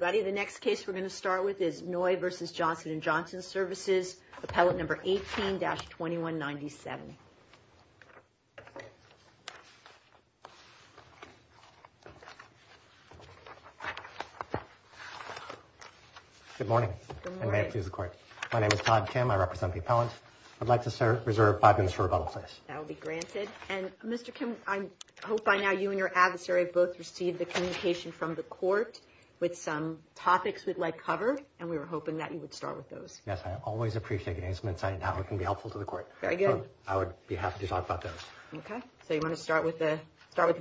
Services, Appellate 18-2197 Good morning. My name is Todd Kim. I represent the appellant. I'd like to serve five minutes for rebuttal, please. That will be granted. Mr. Kim, I hope by now you and your adversary have both received the communication from the court with some topics we'd like to cover, and we were hoping that you would start with those. Yes, I always appreciate the announcement and how it can be helpful to the court. Very good. So I would be happy to talk about those. Okay. So you want to start with the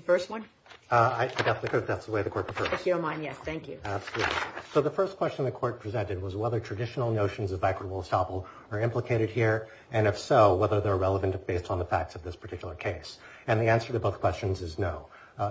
first one? I think that's the way the court prefers. If you don't mind, yes. Thank you. Absolutely. So the first question the court presented was whether traditional notions of equitable estoppel are implicated here, and if so, whether they're relevant based on the facts of this particular case. And the answer to both questions is no.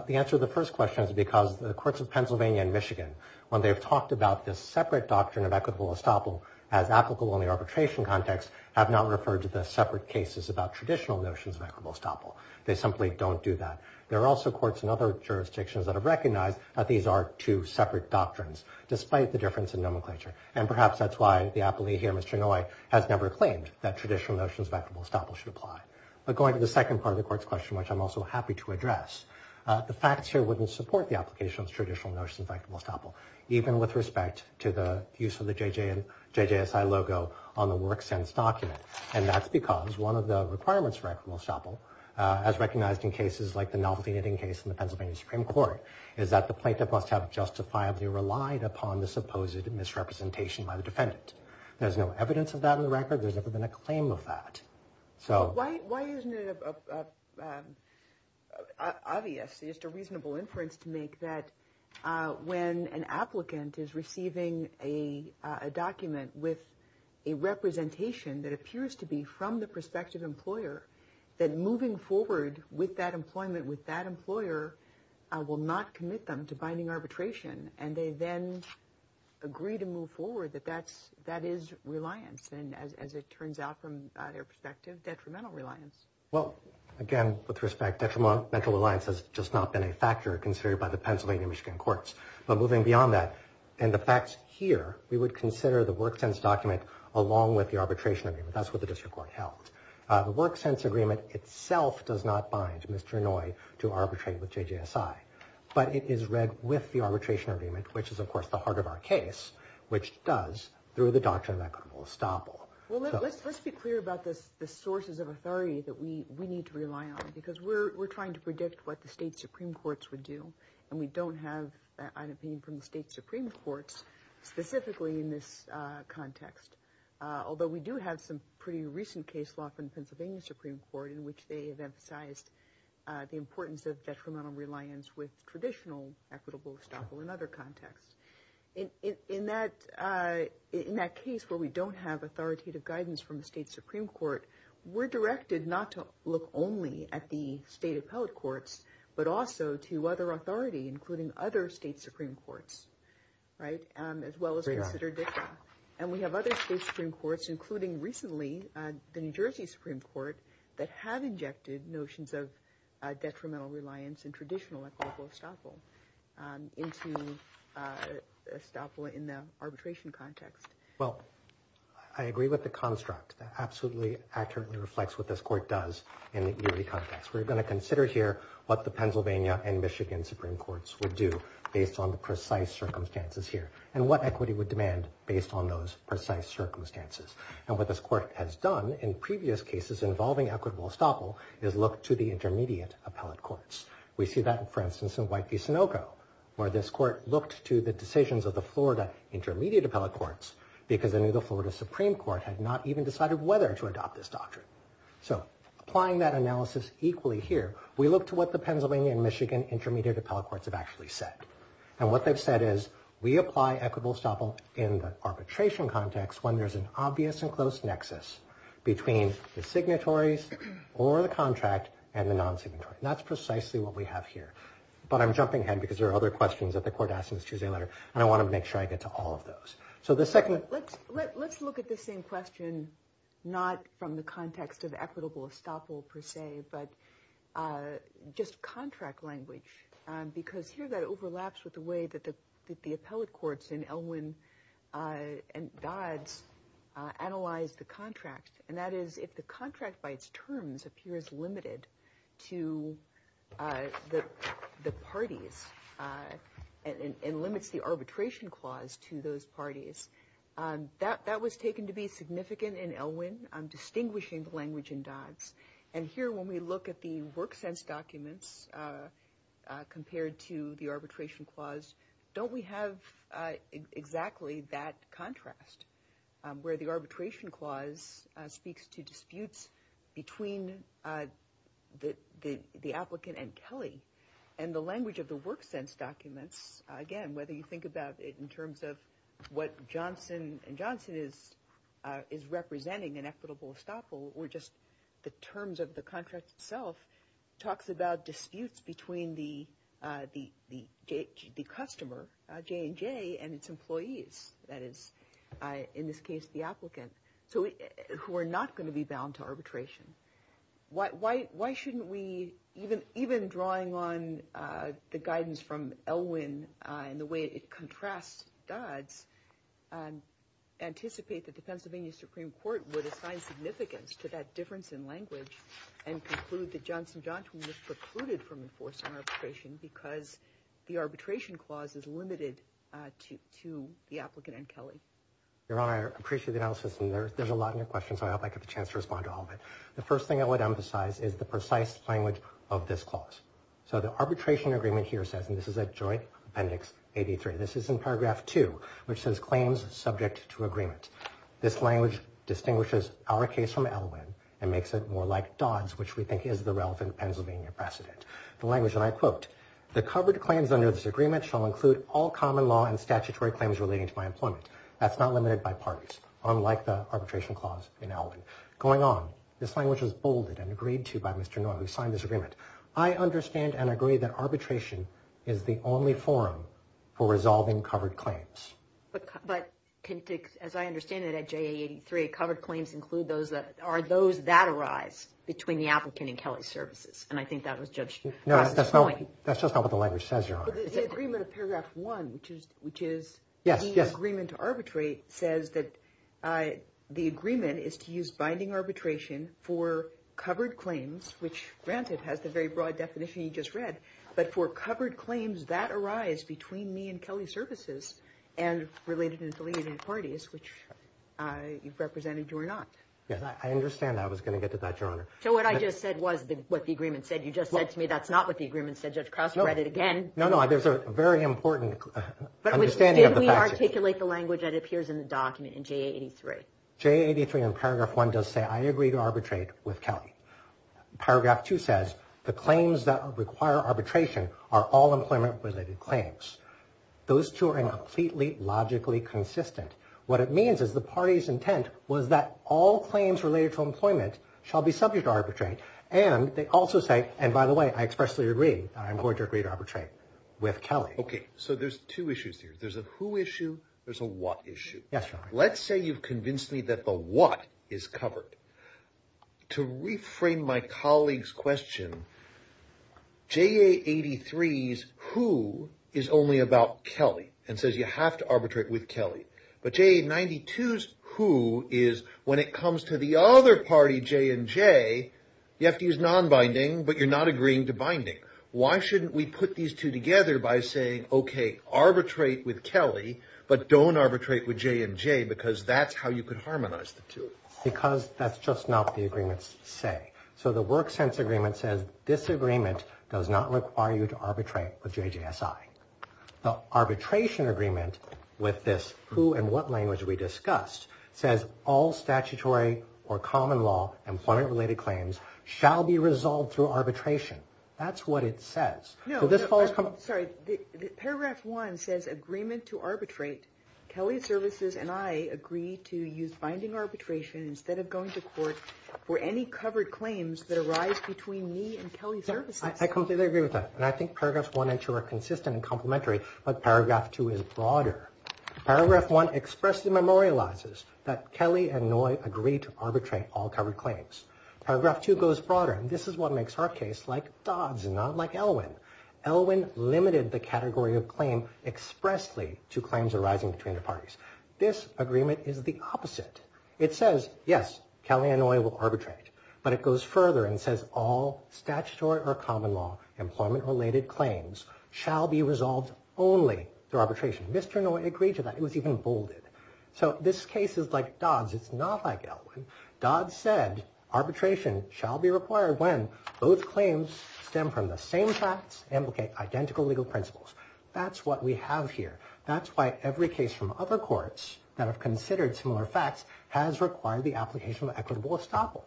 The answer to the first question is because the courts of Pennsylvania and Michigan, when they've talked about this separate doctrine of equitable estoppel as applicable in the arbitration context, have not referred to the separate cases about traditional notions of equitable estoppel. They simply don't do that. There are also courts in other jurisdictions that have recognized that these are two separate doctrines, despite the difference in nomenclature. And perhaps that's why the appellee here, Mr. Noye, has never claimed that traditional notions of equitable estoppel should apply. But going to the second part of the court's question, which I'm also happy to address, the facts here wouldn't support the application of traditional notions of equitable estoppel, even with respect to the use of the JJSI logo on the work sense document. And that's because one of the requirements for equitable estoppel, as recognized in cases like the novelty knitting case in the Pennsylvania Supreme Court, is that the plaintiff must have justifiably relied upon the supposed misrepresentation by the defendant. There's no evidence of that in the record. There's never been a claim of that. Why isn't it obvious, just a reasonable inference to make, that when an applicant is receiving a document with a representation that appears to be from the prospective employer, that moving forward with that employment with that employer will not commit them to binding arbitration. And they then agree to move forward that that is reliance. And as it turns out from their perspective, detrimental reliance. Well, again, with respect, detrimental reliance has just not been a factor considered by the Pennsylvania and Michigan courts. But moving beyond that, and the facts here, we would consider the work sense document along with the arbitration agreement. That's what the district court held. The work sense agreement itself does not bind Mr. Noy to arbitrate with JJSI. But it is read with the arbitration agreement, which is of course the heart of our case, which does through the doctrine of equitable estoppel. Let's be clear about the sources of authority that we need to rely on. Because we're trying to predict what the state Supreme Courts would do. And we don't have an opinion from the state Supreme Courts specifically in this context. Although we do have some pretty recent case law from the Pennsylvania Supreme Court in which they have emphasized the importance of detrimental reliance with traditional equitable estoppel in other cases. In that case where we don't have authoritative guidance from the state Supreme Court, we're directed not to look only at the state appellate courts, but also to other authority, including other state Supreme Courts. Right? As well as considered different. And we have other state Supreme Courts, including recently the New Jersey Supreme Court, that have injected notions of detrimental reliance in traditional equitable estoppel into estoppel in the arbitration context. Well, I agree with the construct. That absolutely accurately reflects what this court does in the EOD context. We're going to consider here what the Pennsylvania and Michigan Supreme Courts would do based on the precise circumstances here. And what equity would demand based on those precise circumstances. And what this court has done in previous cases involving equitable estoppel is look to the intermediate appellate courts. We see that, for instance, in White v. Sinoco, where this court looked to the decisions of the Florida intermediate appellate courts because they knew the Florida Supreme Court had not even decided whether to adopt this doctrine. So applying that analysis equally here, we look to what the Pennsylvania and Michigan intermediate appellate courts have actually said. And what they've said is, we apply equitable estoppel in the arbitration context when there's an obvious and close nexus between the signatories or the contract and the non-signatory. And that's precisely what we have here. But I'm jumping ahead because there are other questions that the court asked in its Tuesday letter, and I want to make sure I get to all of those. So the second... Let's look at the same question, not from the context of equitable estoppel per se, but just contract language. Because here that overlaps with the way that the appellate courts in Elwyn and Dodds analyzed the contract. And that is, if the contract by its terms appears limited to the parties and limits the arbitration clause to those parties, that was taken to be significant in Elwyn, distinguishing the language in Dodds. And here when we look at the WorkSense documents compared to the arbitration clause, don't we have exactly that contrast? Where the arbitration clause speaks to disputes between the applicant and Kelly. And the language of the WorkSense documents, again, whether you think about it in terms of what Johnson and Johnson is representing in equitable estoppel, or just the terms of the contract itself, talks about disputes between the customer, J&J, and its employees. That is, in this case the applicant, who are not going to be bound to arbitration. Why shouldn't we, even drawing on the guidance from Elwyn and the way it contrasts Dodds, anticipate that the Pennsylvania Supreme Court would assign significance to that difference in language and conclude that Johnson and Johnson was precluded from enforcing arbitration because the arbitration clause is limited to the applicant and Kelly. Your Honor, I appreciate the analysis, and there's a lot in your question, so I hope I get the chance to respond to all of it. The first thing I would emphasize is the precise language of this clause. So the arbitration agreement here says, and this is at Joint Appendix 83, this is in paragraph 2, which says claims subject to agreement. This language distinguishes our case from Elwyn and makes it more like Dodds, which we think is the relevant Pennsylvania precedent. The language that I quote, the covered claims under this agreement shall include all common law and statutory claims relating to my employment. That's not limited by parties, unlike the arbitration clause in Elwyn. Going on, this language was bolded and agreed to by Mr. Noye, who signed this agreement. I understand and agree that arbitration is the only forum for resolving covered claims. But as I understand it at JA 83, covered claims include those that arise between the applicant and Kelly services, and I think that was judged across this point. No, that's just not what the language says, Your Honor. The agreement of paragraph 1, which is the agreement to arbitrate, says that the agreement is to use binding arbitration for covered claims, which granted has the very broad definition you just read, but for covered claims that arise between me and Kelly services and related and delineated parties, which you've represented, Your Honor. I understand that. I was going to get to that, Your Honor. So what I just said was what the agreement said. You just said to me that's not what the agreement said. Now, there's a very important understanding of the facts. Which did we articulate the language that appears in the document in JA 83? JA 83 in paragraph 1 does say I agree to arbitrate with Kelly. Paragraph 2 says the claims that require arbitration are all employment-related claims. Those two are completely logically consistent. What it means is the party's intent was that all claims related to employment shall be subject to arbitrate, and they also say, and by the way, I expressly agree that I'm going to agree to arbitrate with Kelly. Okay. So there's two issues here. There's a who issue. There's a what issue. Yes, Your Honor. Let's say you've convinced me that the what is covered. To reframe my colleague's question, JA 83's who is only about Kelly and says you have to arbitrate with Kelly, but JA 92's who is when it comes to the other party, J&J, you have to use non-binding, but you're not agreeing to binding. Why shouldn't we put these two together by saying, okay, arbitrate with Kelly, but don't arbitrate with J&J because that's how you could harmonize the two? Because that's just not the agreement's say. So the work sense agreement says this agreement does not require you to arbitrate with JJSI. The arbitration agreement with this who and what language we discussed says all statutory or common law employment-related claims shall be resolved through arbitration. That's what it says. So this follows from... No, I'm sorry. Paragraph 1 says agreement to arbitrate. Kelly Services and I agree to use binding arbitration instead of going to court for any covered claims that arise between me and Kelly Services. I completely agree with that, and I think paragraphs 1 and 2 are consistent and complementary, but paragraph 2 is broader. Paragraph 1 expressly memorializes that Kelly and Noy agree to arbitrate. Paragraph 2 goes broader, and this is what makes our case like Dodd's and not like Elwin. Elwin limited the category of claim expressly to claims arising between the parties. This agreement is the opposite. It says, yes, Kelly and Noy will arbitrate, but it goes further and says all statutory or common law employment-related claims shall be resolved only through arbitration. Mr. Noy agreed to that. It was even bolded. So this case is like Dodd's. It's not like Elwin. Dodd said arbitration shall be required when both claims stem from the same facts and indicate identical legal principles. That's what we have here. That's why every case from other courts that have considered similar facts has required the application of equitable estoppel.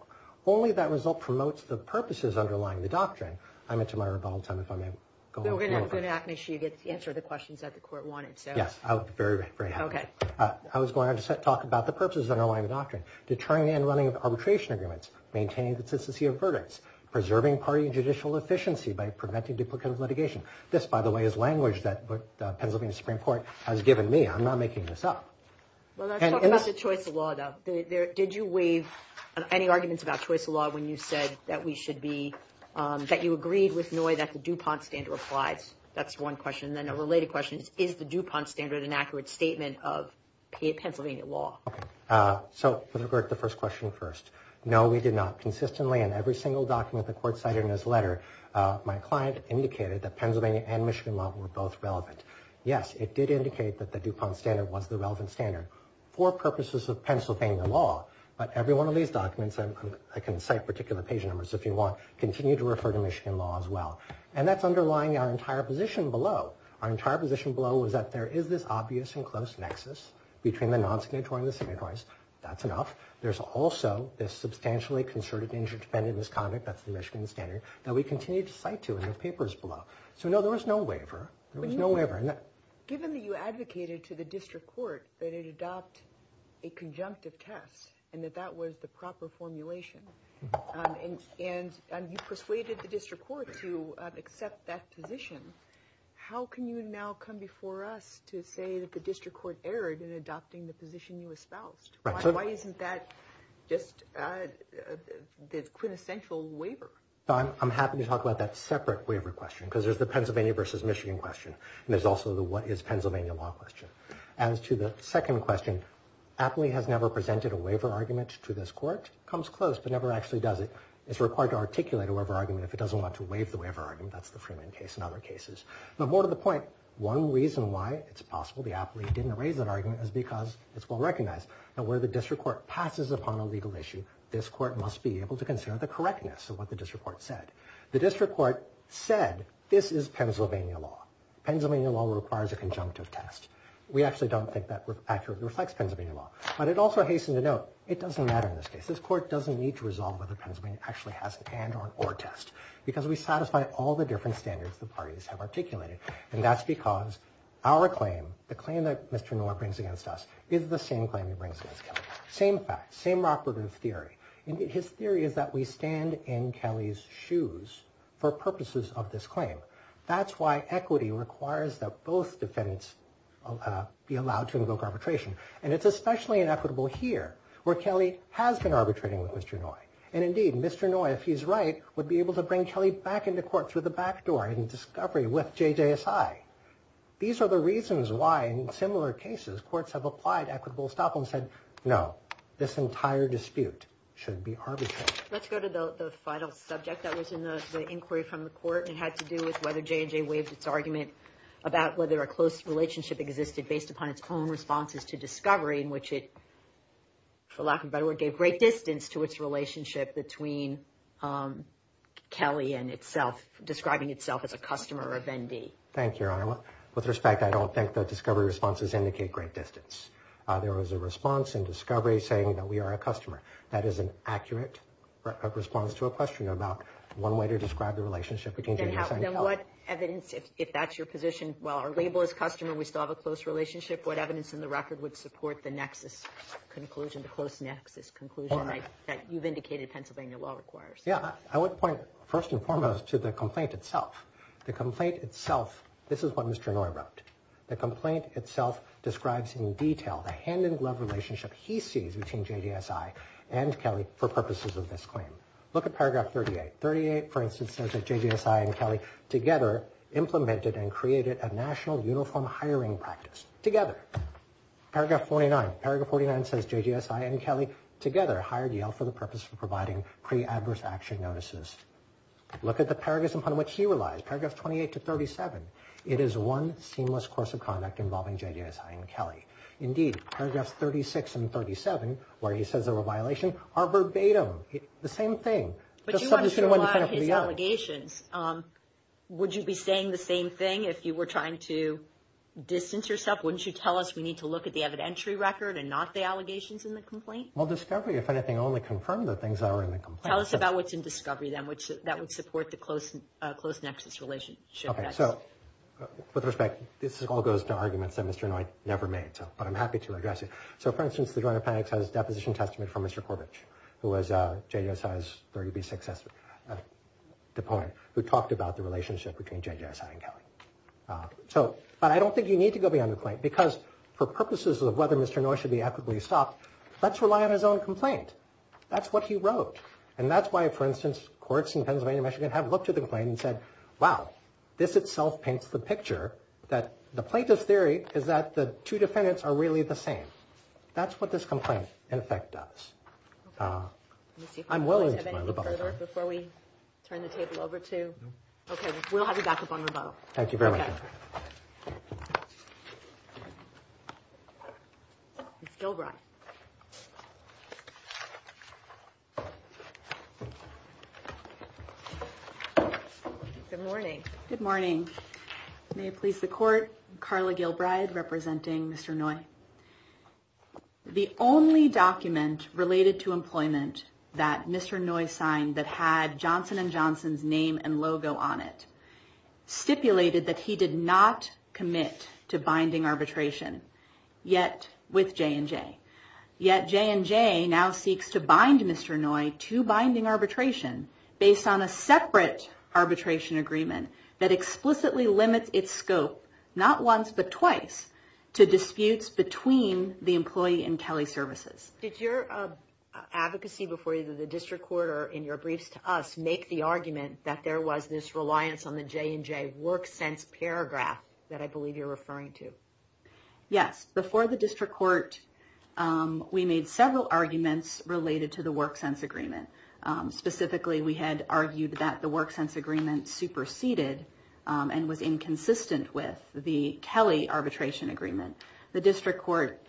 Only that result promotes the purposes underlying the doctrine. I'm into my rebuttal time, if I may. We're going to ask you to answer the questions that the court wanted. Yes, I would be very happy. I was going to talk about the purposes underlying the doctrine. Determining and running of arbitration agreements. Maintaining the consistency of verdicts. Preserving party and judicial efficiency by preventing duplicative litigation. This, by the way, is language that Pennsylvania Supreme Court has given me. I'm not making this up. Well, let's talk about the choice of law, though. Did you waive any arguments about choice of law when you said that we should be, that you agreed with Noy that the DuPont standard applies? That's one question. Then a related question is, is the DuPont standard an accurate statement of Pennsylvania law? So, with regard to the first question first. No, we did not. Consistently, in every single document the court cited in this letter, my client indicated that Pennsylvania and Michigan law were both relevant. Yes, it did indicate that the DuPont standard was the relevant standard. For purposes of Pennsylvania law, but every one of these documents, I can cite particular page numbers if you want, continue to refer to Michigan law as well. And that's underlying our entire position below. Our entire position below is that there is this obvious and close nexus between the non-signatory and the signatories. That's enough. There's also this substantially concerted interdependent misconduct, that's the Michigan standard, that we continue to cite to in the papers below. So, no, there was no waiver. There was no waiver. Given that you advocated to the district court that it adopt a conjunctive test and that that was the proper formulation, and you persuaded the district court to accept that position, how can you now come before us to say that the district court erred in adopting the position you espoused? Why isn't that just the quintessential waiver? I'm happy to talk about that separate waiver question, because there's the Pennsylvania versus Michigan question. There's also the what is Pennsylvania law question. As to the second question, Apley has never presented a waiver argument to this court. Comes close, but never actually does it. It's required to articulate a waiver argument if it doesn't want to waive the waiver argument. That's the Freeman case and other cases. But more to the point, one reason why it's possible the Apley didn't raise that argument is because it's well-recognized. Now, where the district court passes upon a legal issue, this court must be able to consider the correctness of what the district court said. The district court said this is Pennsylvania law. Pennsylvania law requires a conjunctive test. We actually don't think that accurately reflects Pennsylvania law. But I'd also hasten to note it doesn't matter in this case. This court doesn't need to resolve whether Pennsylvania actually has a conjunctive test and or test, because we satisfy all the different standards the parties have articulated. And that's because our claim, the claim that Mr. Noy brings against us, is the same claim he brings against Kelly. Same fact, same operative theory. His theory is that we stand in Kelly's shoes for purposes of this claim. That's why equity requires that both defendants be allowed to invoke arbitration. And it's especially inequitable here, where Kelly has been arbitrating with Mr. Noy. If he's right, would be able to bring Kelly back into court through the back door in discovery with JJSI. These are the reasons why, in similar cases, courts have applied equitable estoppel and said, no, this entire dispute should be arbitrated. Let's go to the final subject that was in the inquiry from the court. It had to do with whether JJ waived its argument about whether a close relationship existed based upon its own responses to discovery, in which it, for lack of a better word, gave great distance to its relationship between Kelly and itself, describing itself as a customer of ND. Thank you, Your Honor. With respect, I don't think the discovery responses indicate great distance. There was a response in discovery saying that we are a customer. That is an accurate response to a question about one way to describe the relationship between JJ and Kelly. Then what evidence, if that's your position, while our label is customer and we still have a close relationship, what evidence in the record would support the nexus conclusion that you've indicated Pennsylvania law requires? Yeah, I would point first and foremost to the complaint itself. The complaint itself, this is what Mr. Inouye wrote. The complaint itself describes in detail the hand-in-glove relationship he sees between JJSI and Kelly for purposes of this claim. Look at paragraph 38. 38, for instance, says that JJSI and Kelly together implemented and created a national uniform hiring practice. Together. Paragraph 49. Paragraph 49 says JJSI and Kelly together hired Yale for the purpose of providing pre-adverse action notices. Look at the paragraphs upon which he relies. Paragraphs 28 to 37. It is one seamless course of conduct involving JJSI and Kelly. Indeed, paragraphs 36 and 37, where he says they were a violation, are verbatim. The same thing. But you want to surmise his allegations. Would you be saying the same thing if you were trying to distance yourself? Wouldn't you tell us we need to look at the evidentiary record and not the allegations in the complaint? Well, discovery, if anything, only confirmed the things that are in the complaint. Tell us about what's in discovery, then, that would support the close nexus relationship. With respect, this all goes to arguments that Mr. Inouye never made, but I'm happy to address it. So, for instance, the Joint Appendix has a deposition testament from Mr. Corbett, who was JJSI's 36th deponent, who talked about the relationship between JJSI and Kelly. But I don't think you need to go beyond the complaint, because for purposes of whether Mr. Inouye should be adequately stopped, let's rely on his own complaint. That's what he wrote. And that's why, for instance, courts in Pennsylvania and Michigan have looked at the complaint and said, wow, this itself paints the picture that the plaintiff's theory is that the two defendants are really the same. That's what this complaint, in effect, does. I'm willing to go further. Before we turn the table over to... Okay, we'll have you back up on rebuttal. Thank you very much. Ms. Gilbride. Good morning. May it please the Court, Carla Gilbride, representing Mr. Inouye. The only document related to employment that Mr. Inouye signed that had Johnson & Johnson's name and logo on it stipulated that he did not commit to binding arbitration with J&J. Yet J&J now seeks to bind Mr. Inouye to binding arbitration based on a separate arbitration agreement that explicitly limits its scope not once but twice to disputes between the employee and Kelly Services. Did your advocacy before either the District Court or in your briefs to us make the argument that there was this reliance on the J&J WorkSense paragraph that I believe you're referring to? Yes. Before the District Court, we made several arguments related to the WorkSense agreement. Specifically, we had argued that the WorkSense agreement superseded and was inconsistent with the Kelly arbitration agreement. The District Court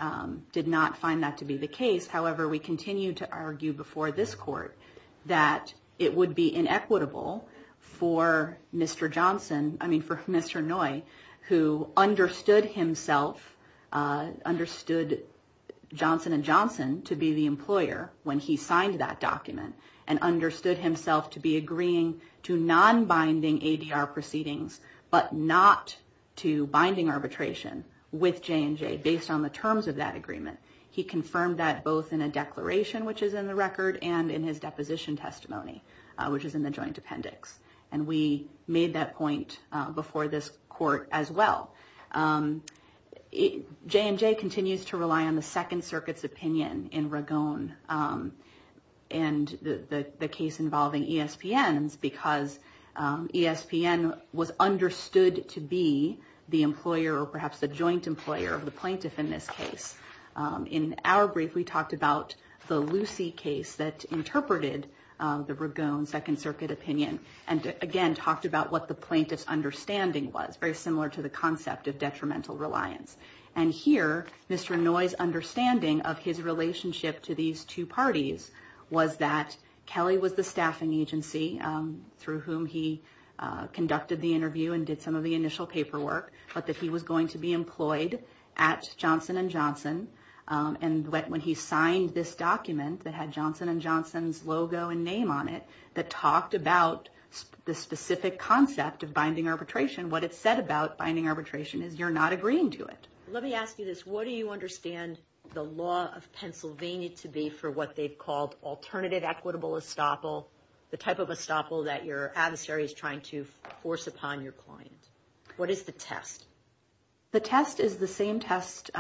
did not find that to be the case. However, we continued to argue before this Court that it would be inequitable for Mr. Johnson, I mean for Mr. Inouye, who understood himself, understood Johnson & Johnson to be the employer when he signed that document and understood himself to be agreeing to non-binding ADR proceedings but not to binding arbitration with J&J based on the terms of that agreement. He confirmed that both in a declaration, which is in the record, and in his deposition testimony which is in the joint appendix. And we made that point before this Court as well. J&J continues to rely on the Second Circuit's opinion in Ragon and the case involving ESPN because ESPN was understood to be the employer or perhaps the joint employer of the plaintiff in this case. In our brief, we talked about the Lucy case that interpreted the Ragon Second Circuit opinion and again talked about what the plaintiff's understanding was, very similar to the concept of detrimental reliance. And here, Mr. Inouye's understanding of his relationship to these two parties was that Kelly was the staffing agency through whom he conducted the interview and did some of the initial paperwork, but that he was going to be employed at Johnson & Johnson. And when he signed this document that had Johnson & Johnson's logo and name on it that talked about the specific concept of binding arbitration, what it said about binding arbitration is you're not agreeing to it. Let me ask you this. What do you understand the law of Pennsylvania to be for what they've called alternative equitable estoppel, the type of estoppel that your client has upon your client? What is the test? The test is the same test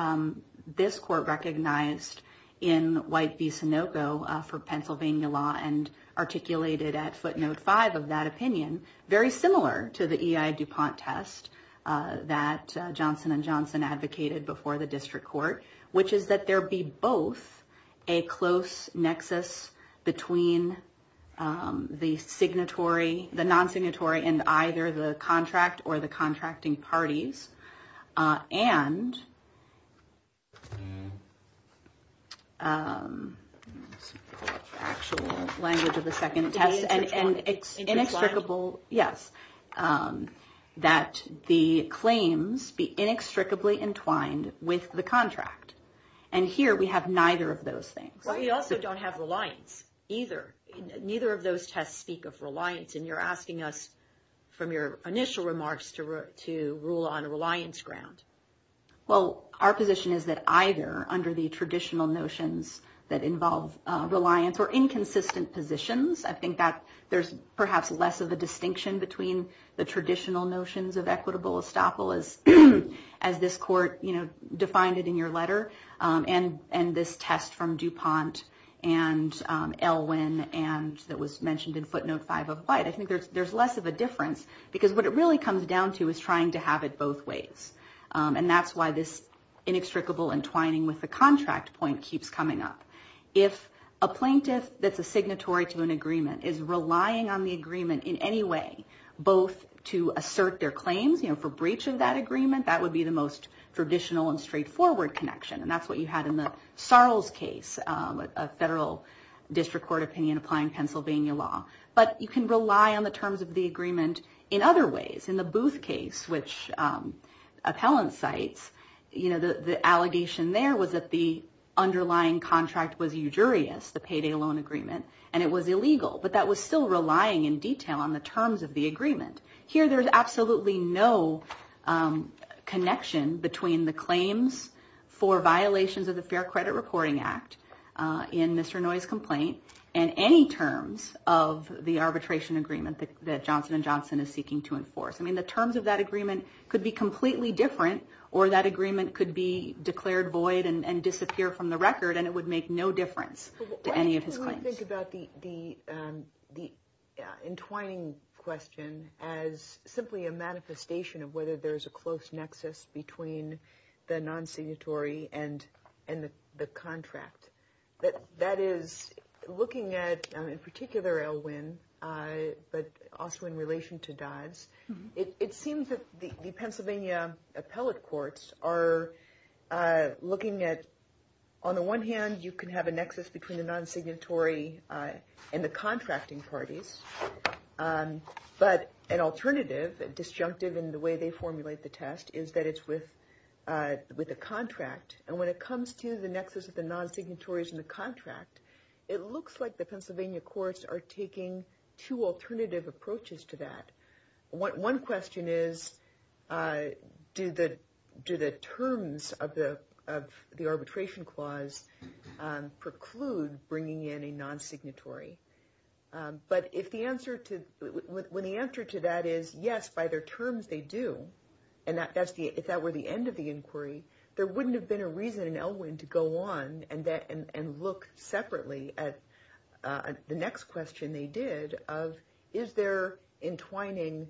this court recognized in White v. Sinoco for Pennsylvania law and articulated at footnote 5 of that opinion, very similar to the EI DuPont test that Johnson & Johnson advocated before the district court, which is that there be both a close nexus between the contract or the contracting parties and actual language of the second test and it's inextricable, yes, that the claims be inextricably entwined with the contract. And here we have neither of those things. Well, you also don't have reliance either. Neither of those tests speak of reliance and you're asking us from your initial remarks to rule on a reliance ground. Well, our position is that either under the traditional notions that involve reliance or inconsistent positions, I think that there's perhaps less of a distinction between the traditional notions of equitable estoppel as this court defined it in your letter and this test from DuPont and Elwin that was mentioned in footnote 5 of white. I think there's less of a difference because what it really comes down to is trying to have it both ways. And that's why this inextricable entwining with the contract point keeps coming up. If a plaintiff that's a signatory to an agreement is relying on the agreement in any way, both to assert their claims for breach of that agreement, that would be the most traditional and straightforward connection. And that's what you had in the Sarles case, a federal district court opinion applying Pennsylvania law. But you can rely on the terms of the agreement in other ways. In the Booth case, which appellant cites, the allegation there was that the underlying contract was ujurious, the payday loan agreement, and it was illegal. But that was still relying in detail on the terms of the agreement. Here there's absolutely no connection between the claims for violations of the Fair Credit Reporting Act in Mr. Noye's complaint and any terms of the arbitration agreement that Johnson & Johnson is seeking to enforce. I mean, the terms of that agreement could be completely different or that agreement could be declared void and disappear from the record and it would make no difference to any of his claims. The entwining question as simply a manifestation of whether there's a close nexus between the non-signatory and the contract. That is, looking at, in particular, Elwyn, but also in relation to Dodds, it seems that the Pennsylvania appellate courts are looking at, on the one hand, you can have a nexus between the non-signatory and the contracting parties, but an alternative, disjunctive in the way they formulate the test, is that it's with the contract. And when it comes to the nexus of the non-signatories and the contract, it looks like the Pennsylvania courts are taking two alternative approaches to that. One question is, do the terms of the arbitration clause preclude bringing in a non-signatory? But when the answer to that is, yes, by their terms they do, and if that were the end of the inquiry, there wouldn't have been a reason in Elwyn to go on and look separately at the next question they did of is there entwining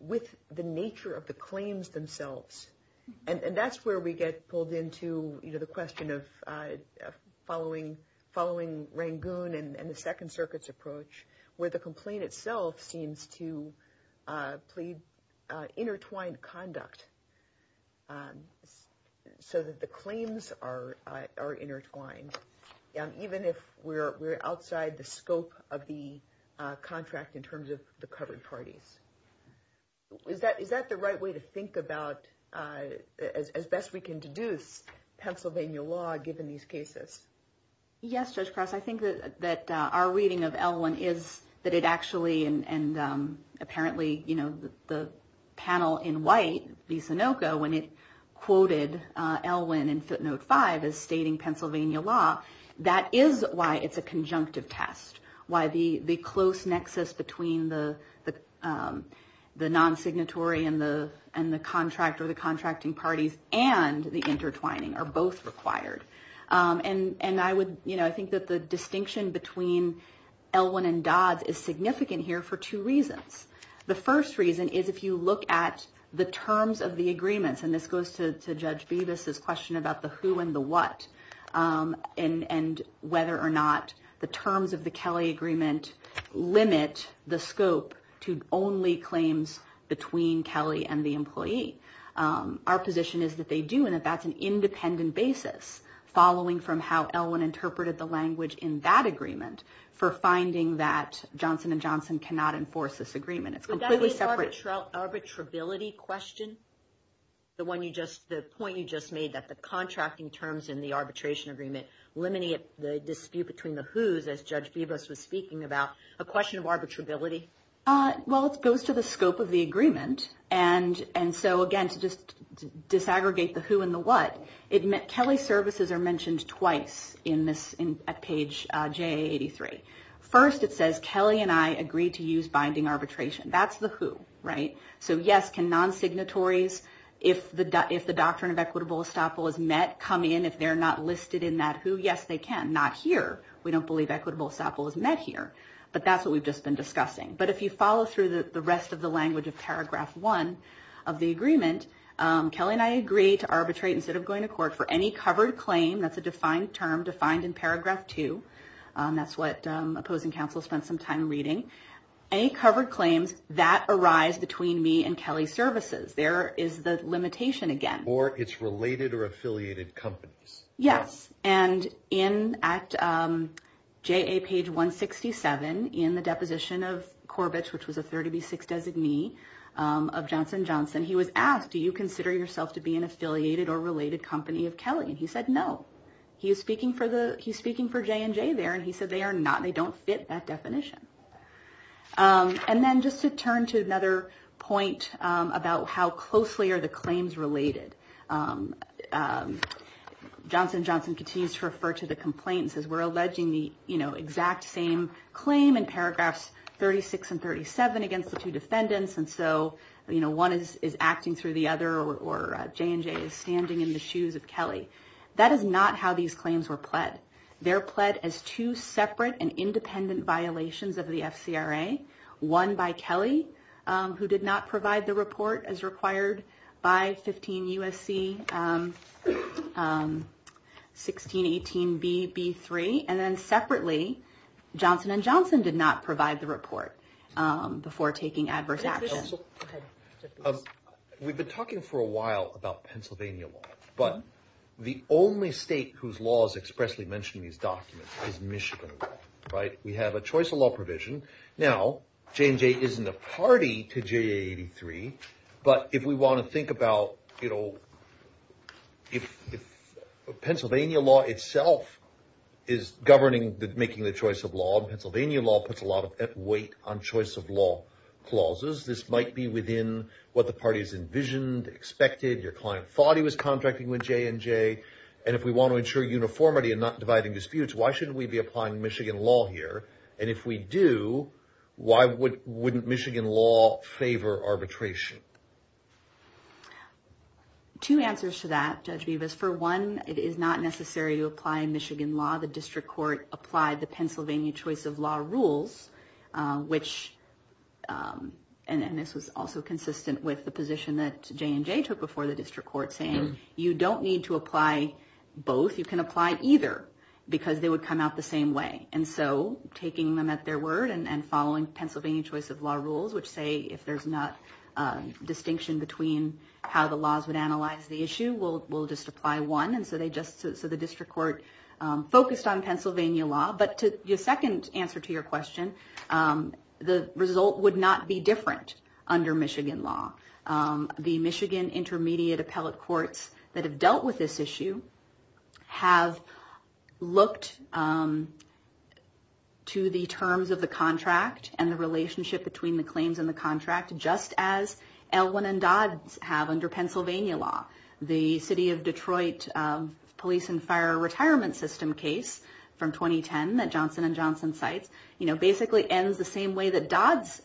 with the nature of the claims themselves? And that's where we get pulled into the question of following Rangoon and the Second Circuit's approach, where the complaint itself seems to intertwine conduct so that the claims are intertwined, even if we're outside the scope of the contract in terms of the covered parties. Is that the right way to think about as best we can deduce Pennsylvania law given these cases? Yes, Judge Cross. I think that our reading of Elwyn is that it actually, and apparently the panel in white, the Sinoco, when it quoted Elwyn in footnote 5 as stating Pennsylvania law, that is why it's a conjunctive test, why the close nexus between the non-signatory and the contract or the contracting parties and the intertwining are both required. And I think that the difference between Elwyn and Dodds is significant here for two reasons. The first reason is if you look at the terms of the agreements, and this goes to Judge Bevis' question about the who and the what, and whether or not the terms of the Kelly agreement limit the scope to only claims between Kelly and the employee. Our position is that they do, and that's an independent basis following from how Elwyn interpreted the language in that agreement for finding that Johnson & Johnson cannot enforce this agreement. It's completely separate. Would that be an arbitrability question? The point you just made that the contracting terms in the arbitration agreement eliminate the dispute between the who's as Judge Bevis was speaking about, a question of arbitrability? Well, it goes to the scope of the agreement, and so again, to just disaggregate the who and the what, Kelly services are mentioned twice at page J83. First, it says Kelly and I agree to use binding arbitration. That's the who, right? So yes, can non-signatories, if the doctrine of equitable estoppel is met, come in if they're not listed in that who? Yes, they can. Not here. We don't believe equitable estoppel is met here. But that's what we've just been discussing. But if you follow through the rest of the language of paragraph one of the agreement, Kelly and I agree to arbitrate instead of going to court for any covered claim, that's a defined term, defined in paragraph two. That's what opposing counsel spent some time reading. Any covered claims that arise between me and Kelly services. There is the limitation again. Or it's related or affiliated companies. Yes, and in JA page 167 in the deposition of Corbett, which was a 30B6 designee of Johnson & Johnson, he was asked, do you have the affiliated company of Kelly? And he said no. He's speaking for J&J there, and he said they don't fit that definition. And then just to turn to another point about how closely are the claims related. Johnson & Johnson continues to refer to the complaints as we're alleging the exact same claim in paragraphs 36 and 37 against the two defendants. And so one is acting through the other or J&J is standing in the shoes of Kelly. That is not how these claims were pled. They're pled as two separate and independent violations of the FCRA. One by Kelly who did not provide the report as required by 15 USC 1618 BB3. And then separately, Johnson & Johnson did not provide the report before taking adverse action. We've been talking for a while about Pennsylvania law, but the only state whose law is expressly mentioned in these documents is Michigan law. We have a choice of law provision. Now, J&J isn't a party to JA 83, but if we want to think about if Pennsylvania law itself is governing making the choice of law, and Pennsylvania law puts a lot of weight on the choice of law clauses, this might be within what the party's envisioned, expected. Your client thought he was contracting with J&J and if we want to ensure uniformity and not dividing disputes, why shouldn't we be applying Michigan law here? And if we do, why wouldn't Michigan law favor arbitration? Two answers to that, Judge Bevis. For one, it is not necessary to apply Michigan law. The district court applied the Pennsylvania choice of law rules, which and this was also consistent with the position that J&J took before the district court saying you don't need to apply both, you can apply either because they would come out the same way. And so taking them at their word and following Pennsylvania choice of law rules, which say if there's not distinction between how the laws would analyze the issue, we'll just apply one. And so the district court focused on and to your question, the result would not be different under Michigan law. The Michigan Intermediate Appellate Courts that have dealt with this issue have looked to the terms of the contract and the relationship between the claims and the contract just as Elwin and Dodds have under Pennsylvania law. The City of Detroit Police and Fire Retirement System case from 2010 that Johnson & Johnson cites basically ends the same way that Dodds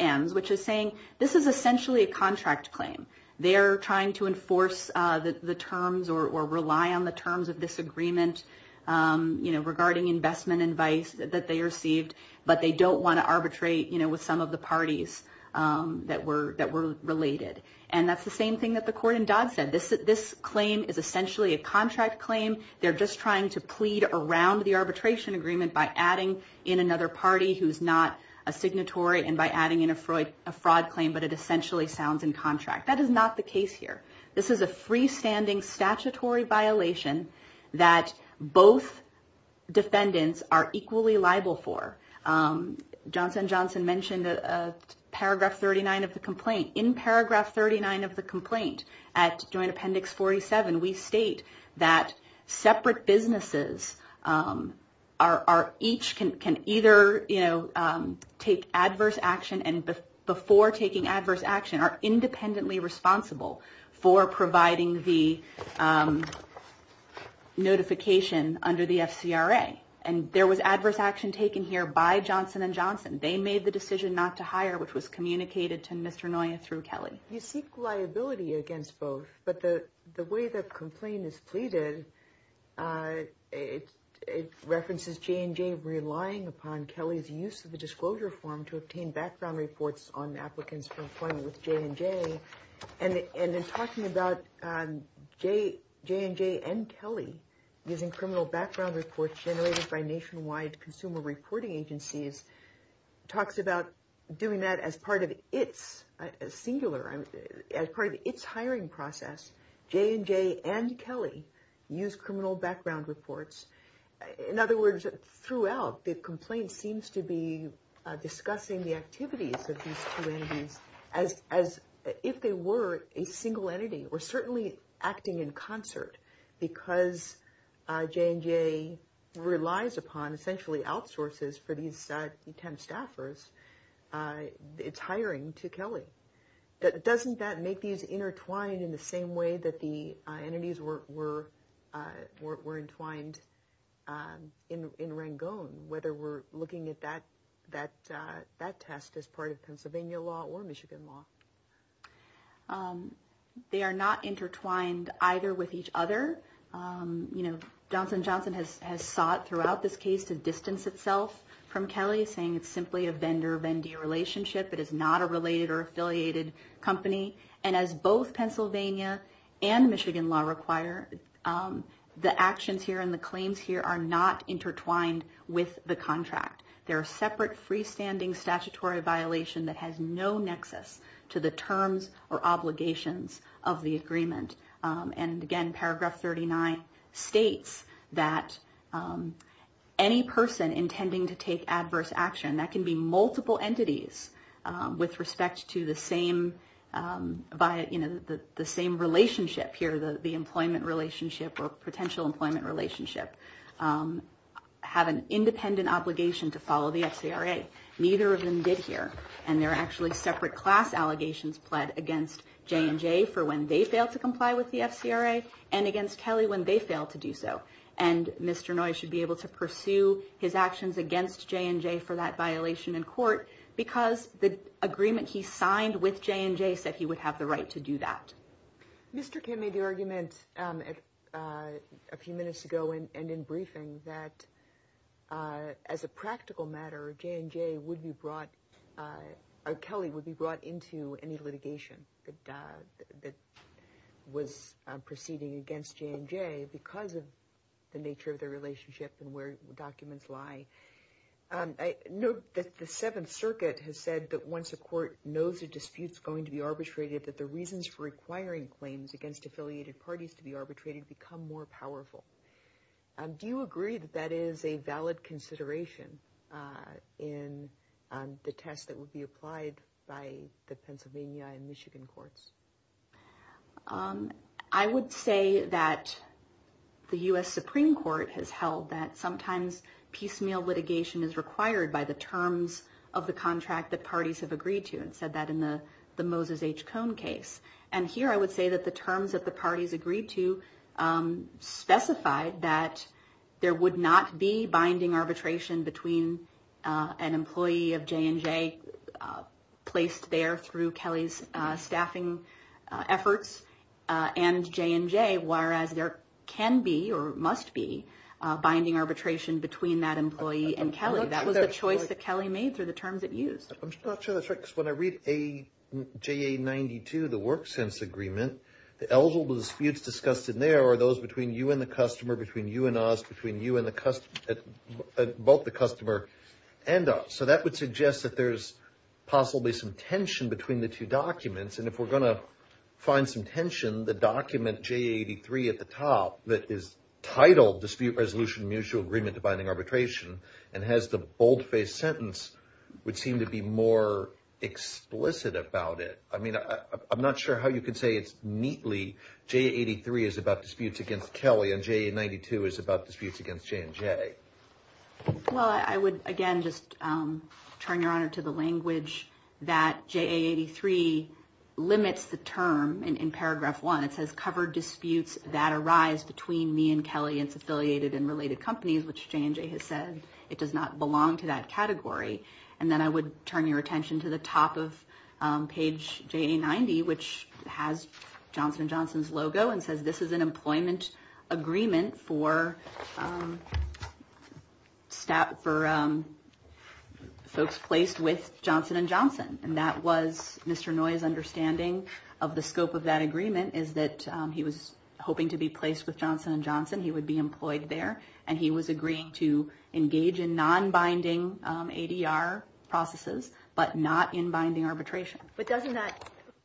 ends, which is saying this is essentially a contract claim. They're trying to enforce the terms or rely on the terms of this agreement regarding investment advice that they received, but they don't want to arbitrate with some of the parties that were related. And that's the same thing that the court in Dodds said. This claim is essentially a contract claim. They're just trying to plead around the arbitration agreement by adding in another party who's not a signatory and by adding in a fraud claim, but it essentially sounds in contract. That is not the case here. This is a freestanding statutory violation that both defendants are equally liable for. Johnson & Johnson mentioned paragraph 39 of the complaint. In paragraph 39 of the complaint at Joint Appendix 47 we state that separate businesses each can either take adverse action and before taking adverse action are independently responsible for providing the notification under the FCRA. And there was adverse action taken here by Johnson & Johnson. They made the decision not to hire which was communicated to Mr. Noya through Kelly. You seek liability against both, but the way the complaint is pleaded, it references J&J relying upon Kelly's use of the disclosure form to obtain background reports on applicants for employment with J&J. And in talking about J&J and Kelly using criminal background reports generated by nationwide consumer reporting agencies, talks about doing that as part of its hiring process. J&J and Kelly use criminal background reports. In other words, throughout the complaint seems to be discussing the activities of these two entities as if they were a single entity or certainly acting in concert because J&J relies upon essentially outsources for these 10 staffers. It's hiring to Kelly. Doesn't that make these intertwined in the same way that the entities were entwined in Rangone, whether we're looking at that test as part of Pennsylvania law or Michigan law? They are not intertwined either with each other. Kelly is saying it's simply a vendor-vendee relationship. It is not a related or affiliated company. And as both Pennsylvania and Michigan law require, the actions here and the claims here are not intertwined with the contract. They're a separate freestanding statutory violation that has no nexus to the terms or obligations of the agreement. And again, paragraph 39 states that any person intending to take adverse action, that can be multiple entities with respect to the same relationship here, the employment relationship or potential employment relationship, have an independent obligation to follow the FCRA. Neither of them did here. And there are actually separate class allegations pled against J&J for when they failed to comply with the FCRA and against Kelly when they failed to do so. And Mr. Noyes should be able to pursue his actions against J&J for that violation in court because the agreement he signed with J&J said he would have the right to do that. Mr. Kim made the argument a few minutes ago and in briefing that as a practical matter, J&J would be brought, or Kelly would be brought into any litigation that was proceeding against J&J because of the nature of their relationship and where documents lie. Note that the Seventh Circuit has said that once a court knows a dispute is going to be arbitrated, that the reasons for requiring claims against affiliated parties to be arbitrated become more powerful. Do you agree that that is a valid consideration in the test that would be applied by the Pennsylvania and Michigan courts? I would say that the U.S. Supreme Court has held that sometimes piecemeal litigation is required by the terms of the contract that parties have agreed to. It said that in the Moses H. Cone case. And here I would say that the terms that the parties agreed to specified that there would not be binding arbitration between an employee of J&J placed there through Kelly's staffing efforts and J&J, whereas there can be or must be binding arbitration between that employee and Kelly. That was the choice that Kelly made through the terms it used. I'm not sure that's right because when I read JA92, the work sense agreement, the eligible disputes discussed in there are those between you and the customer, between you and us, between you and the customer both the customer and us. So that would suggest that there's possibly some tension between the two documents. And if we're going to find some tension, the document JA83 at the top that is titled Dispute Resolution Mutual Agreement to Binding Arbitration and has the bold-faced sentence would seem to be more explicit about it. I mean, I'm not sure how you could say it's neatly JA83 is about disputes against Kelly and JA92 is about disputes against J&J. Well, I would again just turn, Your Honor, to the language that JA83 limits the term in paragraph one. It says covered disputes that arise between me and Kelly and its affiliated and related companies, which J&J has said it does not belong to that category. And then I would turn your attention to the top of page JA90, which has Johnson & Johnson's logo and says this is an employment agreement for staff, for folks placed with Johnson & Johnson. And that was Mr. Noye's understanding of the scope of that agreement is that he was hoping to be placed with Johnson & Johnson. He would be employed there. And he was agreeing to engage in non-binding ADR processes, but not in binding arbitration. But doesn't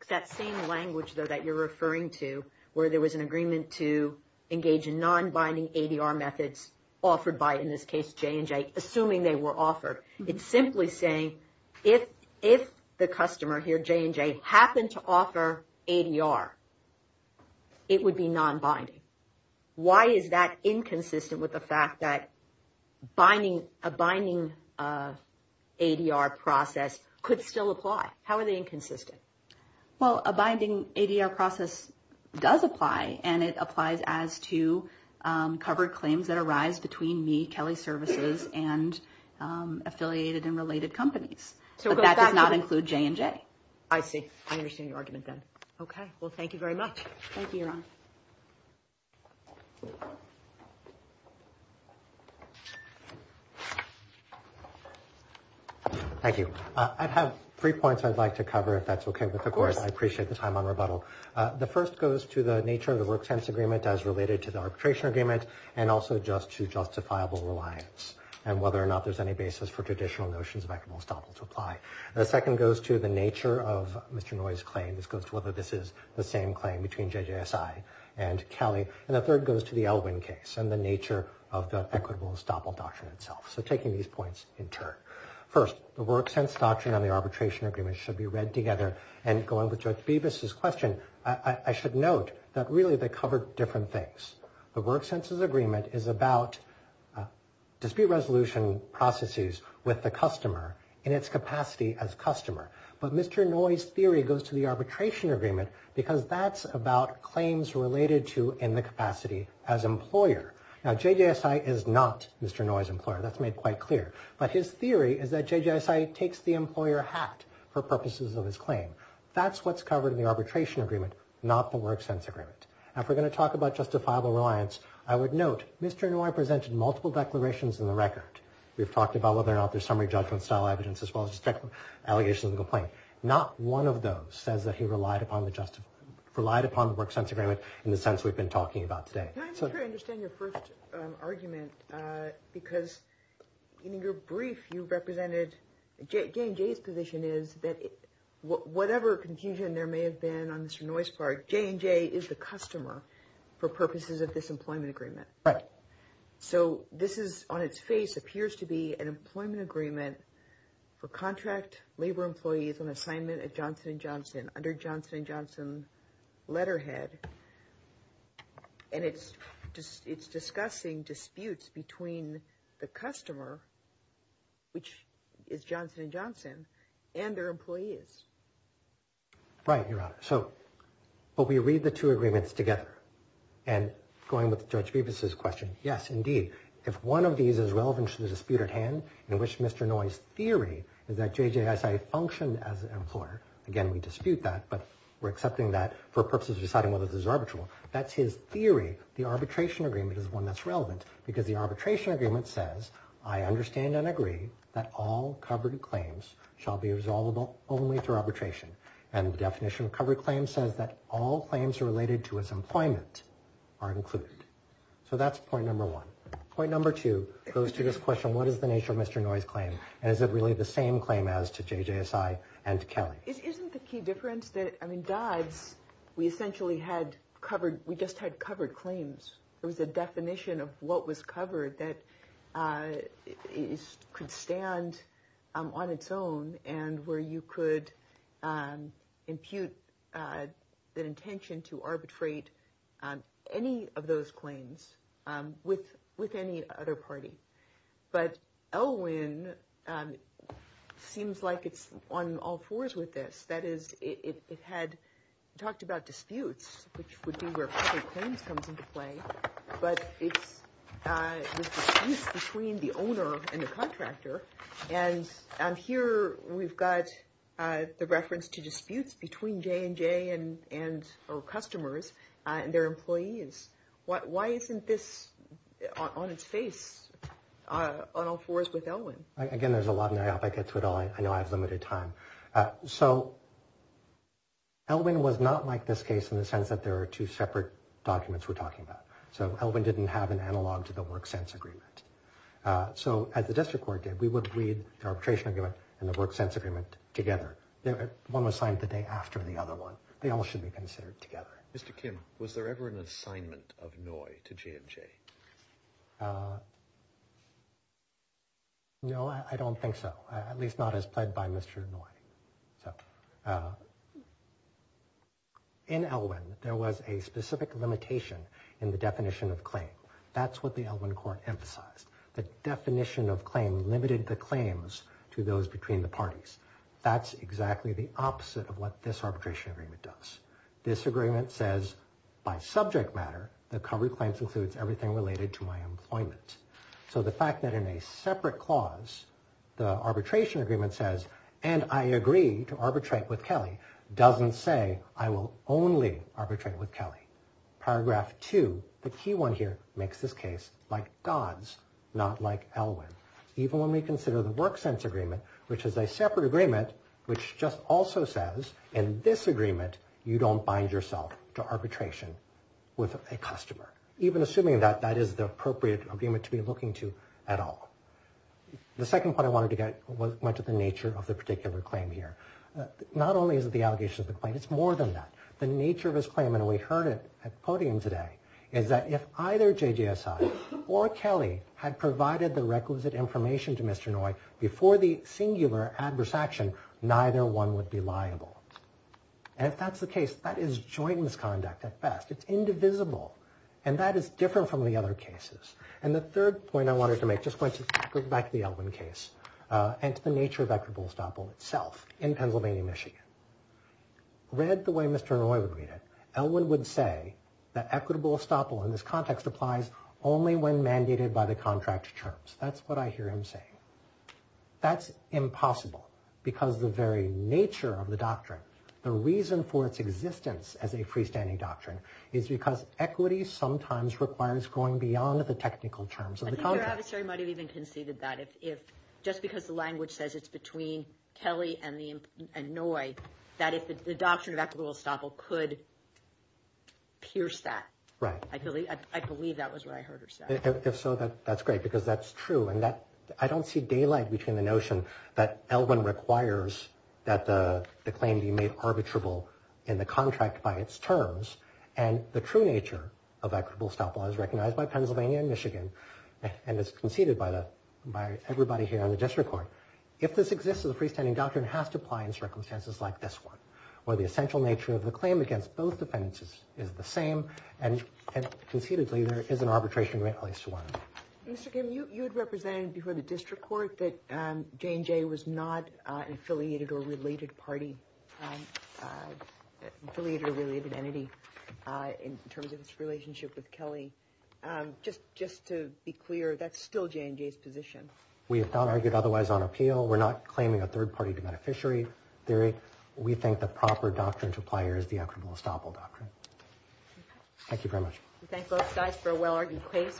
that same language, though, that you're referring to where there was an agreement to engage in non-binding ADR methods offered by, in this case, J&J, assuming they were offered? It's simply saying if the customer here, J&J, happened to offer ADR, it would be non-binding. Why is that inconsistent with the fact that a binding ADR process could still apply? How are they inconsistent? Well, a binding ADR process does apply and it applies as to covered claims that arise between me, Kelley Services, and affiliated and related companies. But that does not include J&J. I see. I understand your argument then. Okay. Well, thank you very much. Thank you, Your Honor. Thank you. I have three points I'd like to cover, if that's okay with the Court. Of course. I appreciate the time on rebuttal. The first goes to the nature of the Work Sense Agreement as related to the Arbitration Agreement and also just to justifiable reliance and whether or not there's any basis for traditional notions of equitable estoppel to apply. The second goes to the nature of Mr. Noy's claim. This goes to whether this is the same claim between JJSI and Kelley. And the third goes to the Elwin case and the nature of the equitable estoppel doctrine itself. So taking these points in turn. First, the Work Sense Doctrine and the Arbitration Agreement should be read together and going with Judge Bevis' question, I should note that really they cover different things. The Work Sense Agreement is about dispute resolution processes with the customer in its capacity as customer. But Mr. Noy's theory goes to the Arbitration Agreement because that's about claims related to in the capacity as employer. Now, JJSI is not Mr. Noy's employer. That's made quite clear. But his theory is that JJSI takes the employer hat for purposes of his claim. That's what's covered in the Arbitration Agreement not the Work Sense Agreement. Now, if we're going to talk about justifiable reliance I would note Mr. Noy presented multiple declarations in the record. We've talked about whether or not there's summary judgment style evidence as well as just allegations of complaint. Not one of those says that he relied upon the Work Sense Agreement in the sense we've been talking about today. I'm not sure I understand your first argument because in your brief you position is that whatever confusion there may have been on Mr. Noy's part, J&J is the customer for purposes of this employment agreement. So this is on its face appears to be an employment agreement for contract labor employees on assignment at Johnson & Johnson under Johnson & Johnson letterhead. And it's discussing disputes between the customer, which is Johnson & Johnson, and their employees. Right, Your Honor. So, but we read the two agreements together and going with Judge Bevis' question, yes, indeed, if one of these is relevant to the dispute at hand in which Mr. Noy's theory is that JJSI functioned as an employer. Again, we dispute that, but we're accepting that for purposes of deciding whether this is arbitral. That's his theory the Arbitration Agreement is one that's relevant because the Arbitration Agreement says I understand and agree that all covered claims shall be resolvable only through arbitration. And the definition of covered claims says that all claims related to his employment are included. So that's point number one. Point number two goes to this question, what is the nature of Mr. Noy's claim? And is it really the same claim as to JJSI and to Kelly? Isn't the key difference that, I mean, Dodds, we essentially had covered, we just had covered claims. There was a definition of what was covered that could stand on its own and where you could impute the intention to arbitrate any of those claims with any other party. But LWIN seems like it's on all fours with this. That is, it had talked about disputes, which would be where covered claims comes into play, but it's the disputes between the owner and the contractor. And here we've got the reference to disputes between J&J and our customers and their employees. Why isn't this on its face on all fours with LWIN? Again, there's a lot of naivety. I get to it all. I know I have limited time. So LWIN was not like this case in the sense that there are two separate documents we're talking about. So LWIN didn't have an analog to the WorkSense agreement. So as the district court did, we would read the arbitration agreement and the WorkSense agreement together. One was signed the day after the other one. They all should be considered together. Mr. Kim, was there ever an assignment of NOI to J&J? No, I don't think so. At least not as pled by Mr. NOI. In LWIN, there was a specific limitation in the definition of claim. That's what the LWIN court emphasized. The definition of claim limited the claims to those between the parties. That's exactly the opposite of what this arbitration agreement does. This agreement says by subject matter, the covered claims includes everything related to my employment. So the fact that in a separate clause, the arbitration agreement says, and I agree to arbitrate with Kelly, doesn't say I will only arbitrate with Kelly. Paragraph 2, the key one here, makes this case like God's, not like LWIN. Even when we consider the WorkSense agreement, which is a separate agreement, which just also says in this agreement, you don't bind yourself to arbitration with a customer. Even assuming that that is the appropriate agreement to be looking to at all. The second point I wanted to get was much of the nature of the particular claim here. Not only is it the allegation of the claim, it's more than that. The nature of his claim, and we heard it at podium today, is that if either JJSI or Kelly had provided the requisite information to Mr. NOI before the singular adverse action, neither one would be liable. And if that's the case, that is joint misconduct at best. It's indivisible. And that is different from the other cases. And the third point I wanted to make, just going back to the LWIN case, and to the nature of equitable estoppel itself in Pennsylvania, Michigan. Read the way Mr. NOI would read it, LWIN would say that equitable estoppel in this context applies only when mandated by the contract terms. That's what I hear him saying. That's impossible because the very nature of the doctrine, the reason for its existence as a freestanding doctrine, is because equity sometimes requires going beyond the technical terms of the contract. I think your adversary might have even conceded that. Just because the language says it's between Kelly and NOI, that if the doctrine of equitable estoppel could pierce that. Right. I believe that was what I heard her say. If so, that's great, because that's true. I don't see daylight between the notion that LWIN requires that the claim be made arbitrable in the contract by its terms and the true nature of equitable estoppel is recognized by Pennsylvania and Michigan, and is conceded by everybody here in the district court. If this exists as a freestanding doctrine, it has to apply in circumstances like this one where the essential nature of the claim against both defendants is the same and concededly there is an arbitration at least to one of them. Mr. Kim, you had represented before the district court that J&J was not an affiliated or related party, affiliated or related entity in terms of its relationship with Kelly. Just to be clear, that's still J&J's position. We have not argued otherwise on appeal. We're not claiming a third-party beneficiary theory. We think the proper doctrine to apply here is the equitable estoppel doctrine. Thank you very much. We thank both sides for a well-argued case.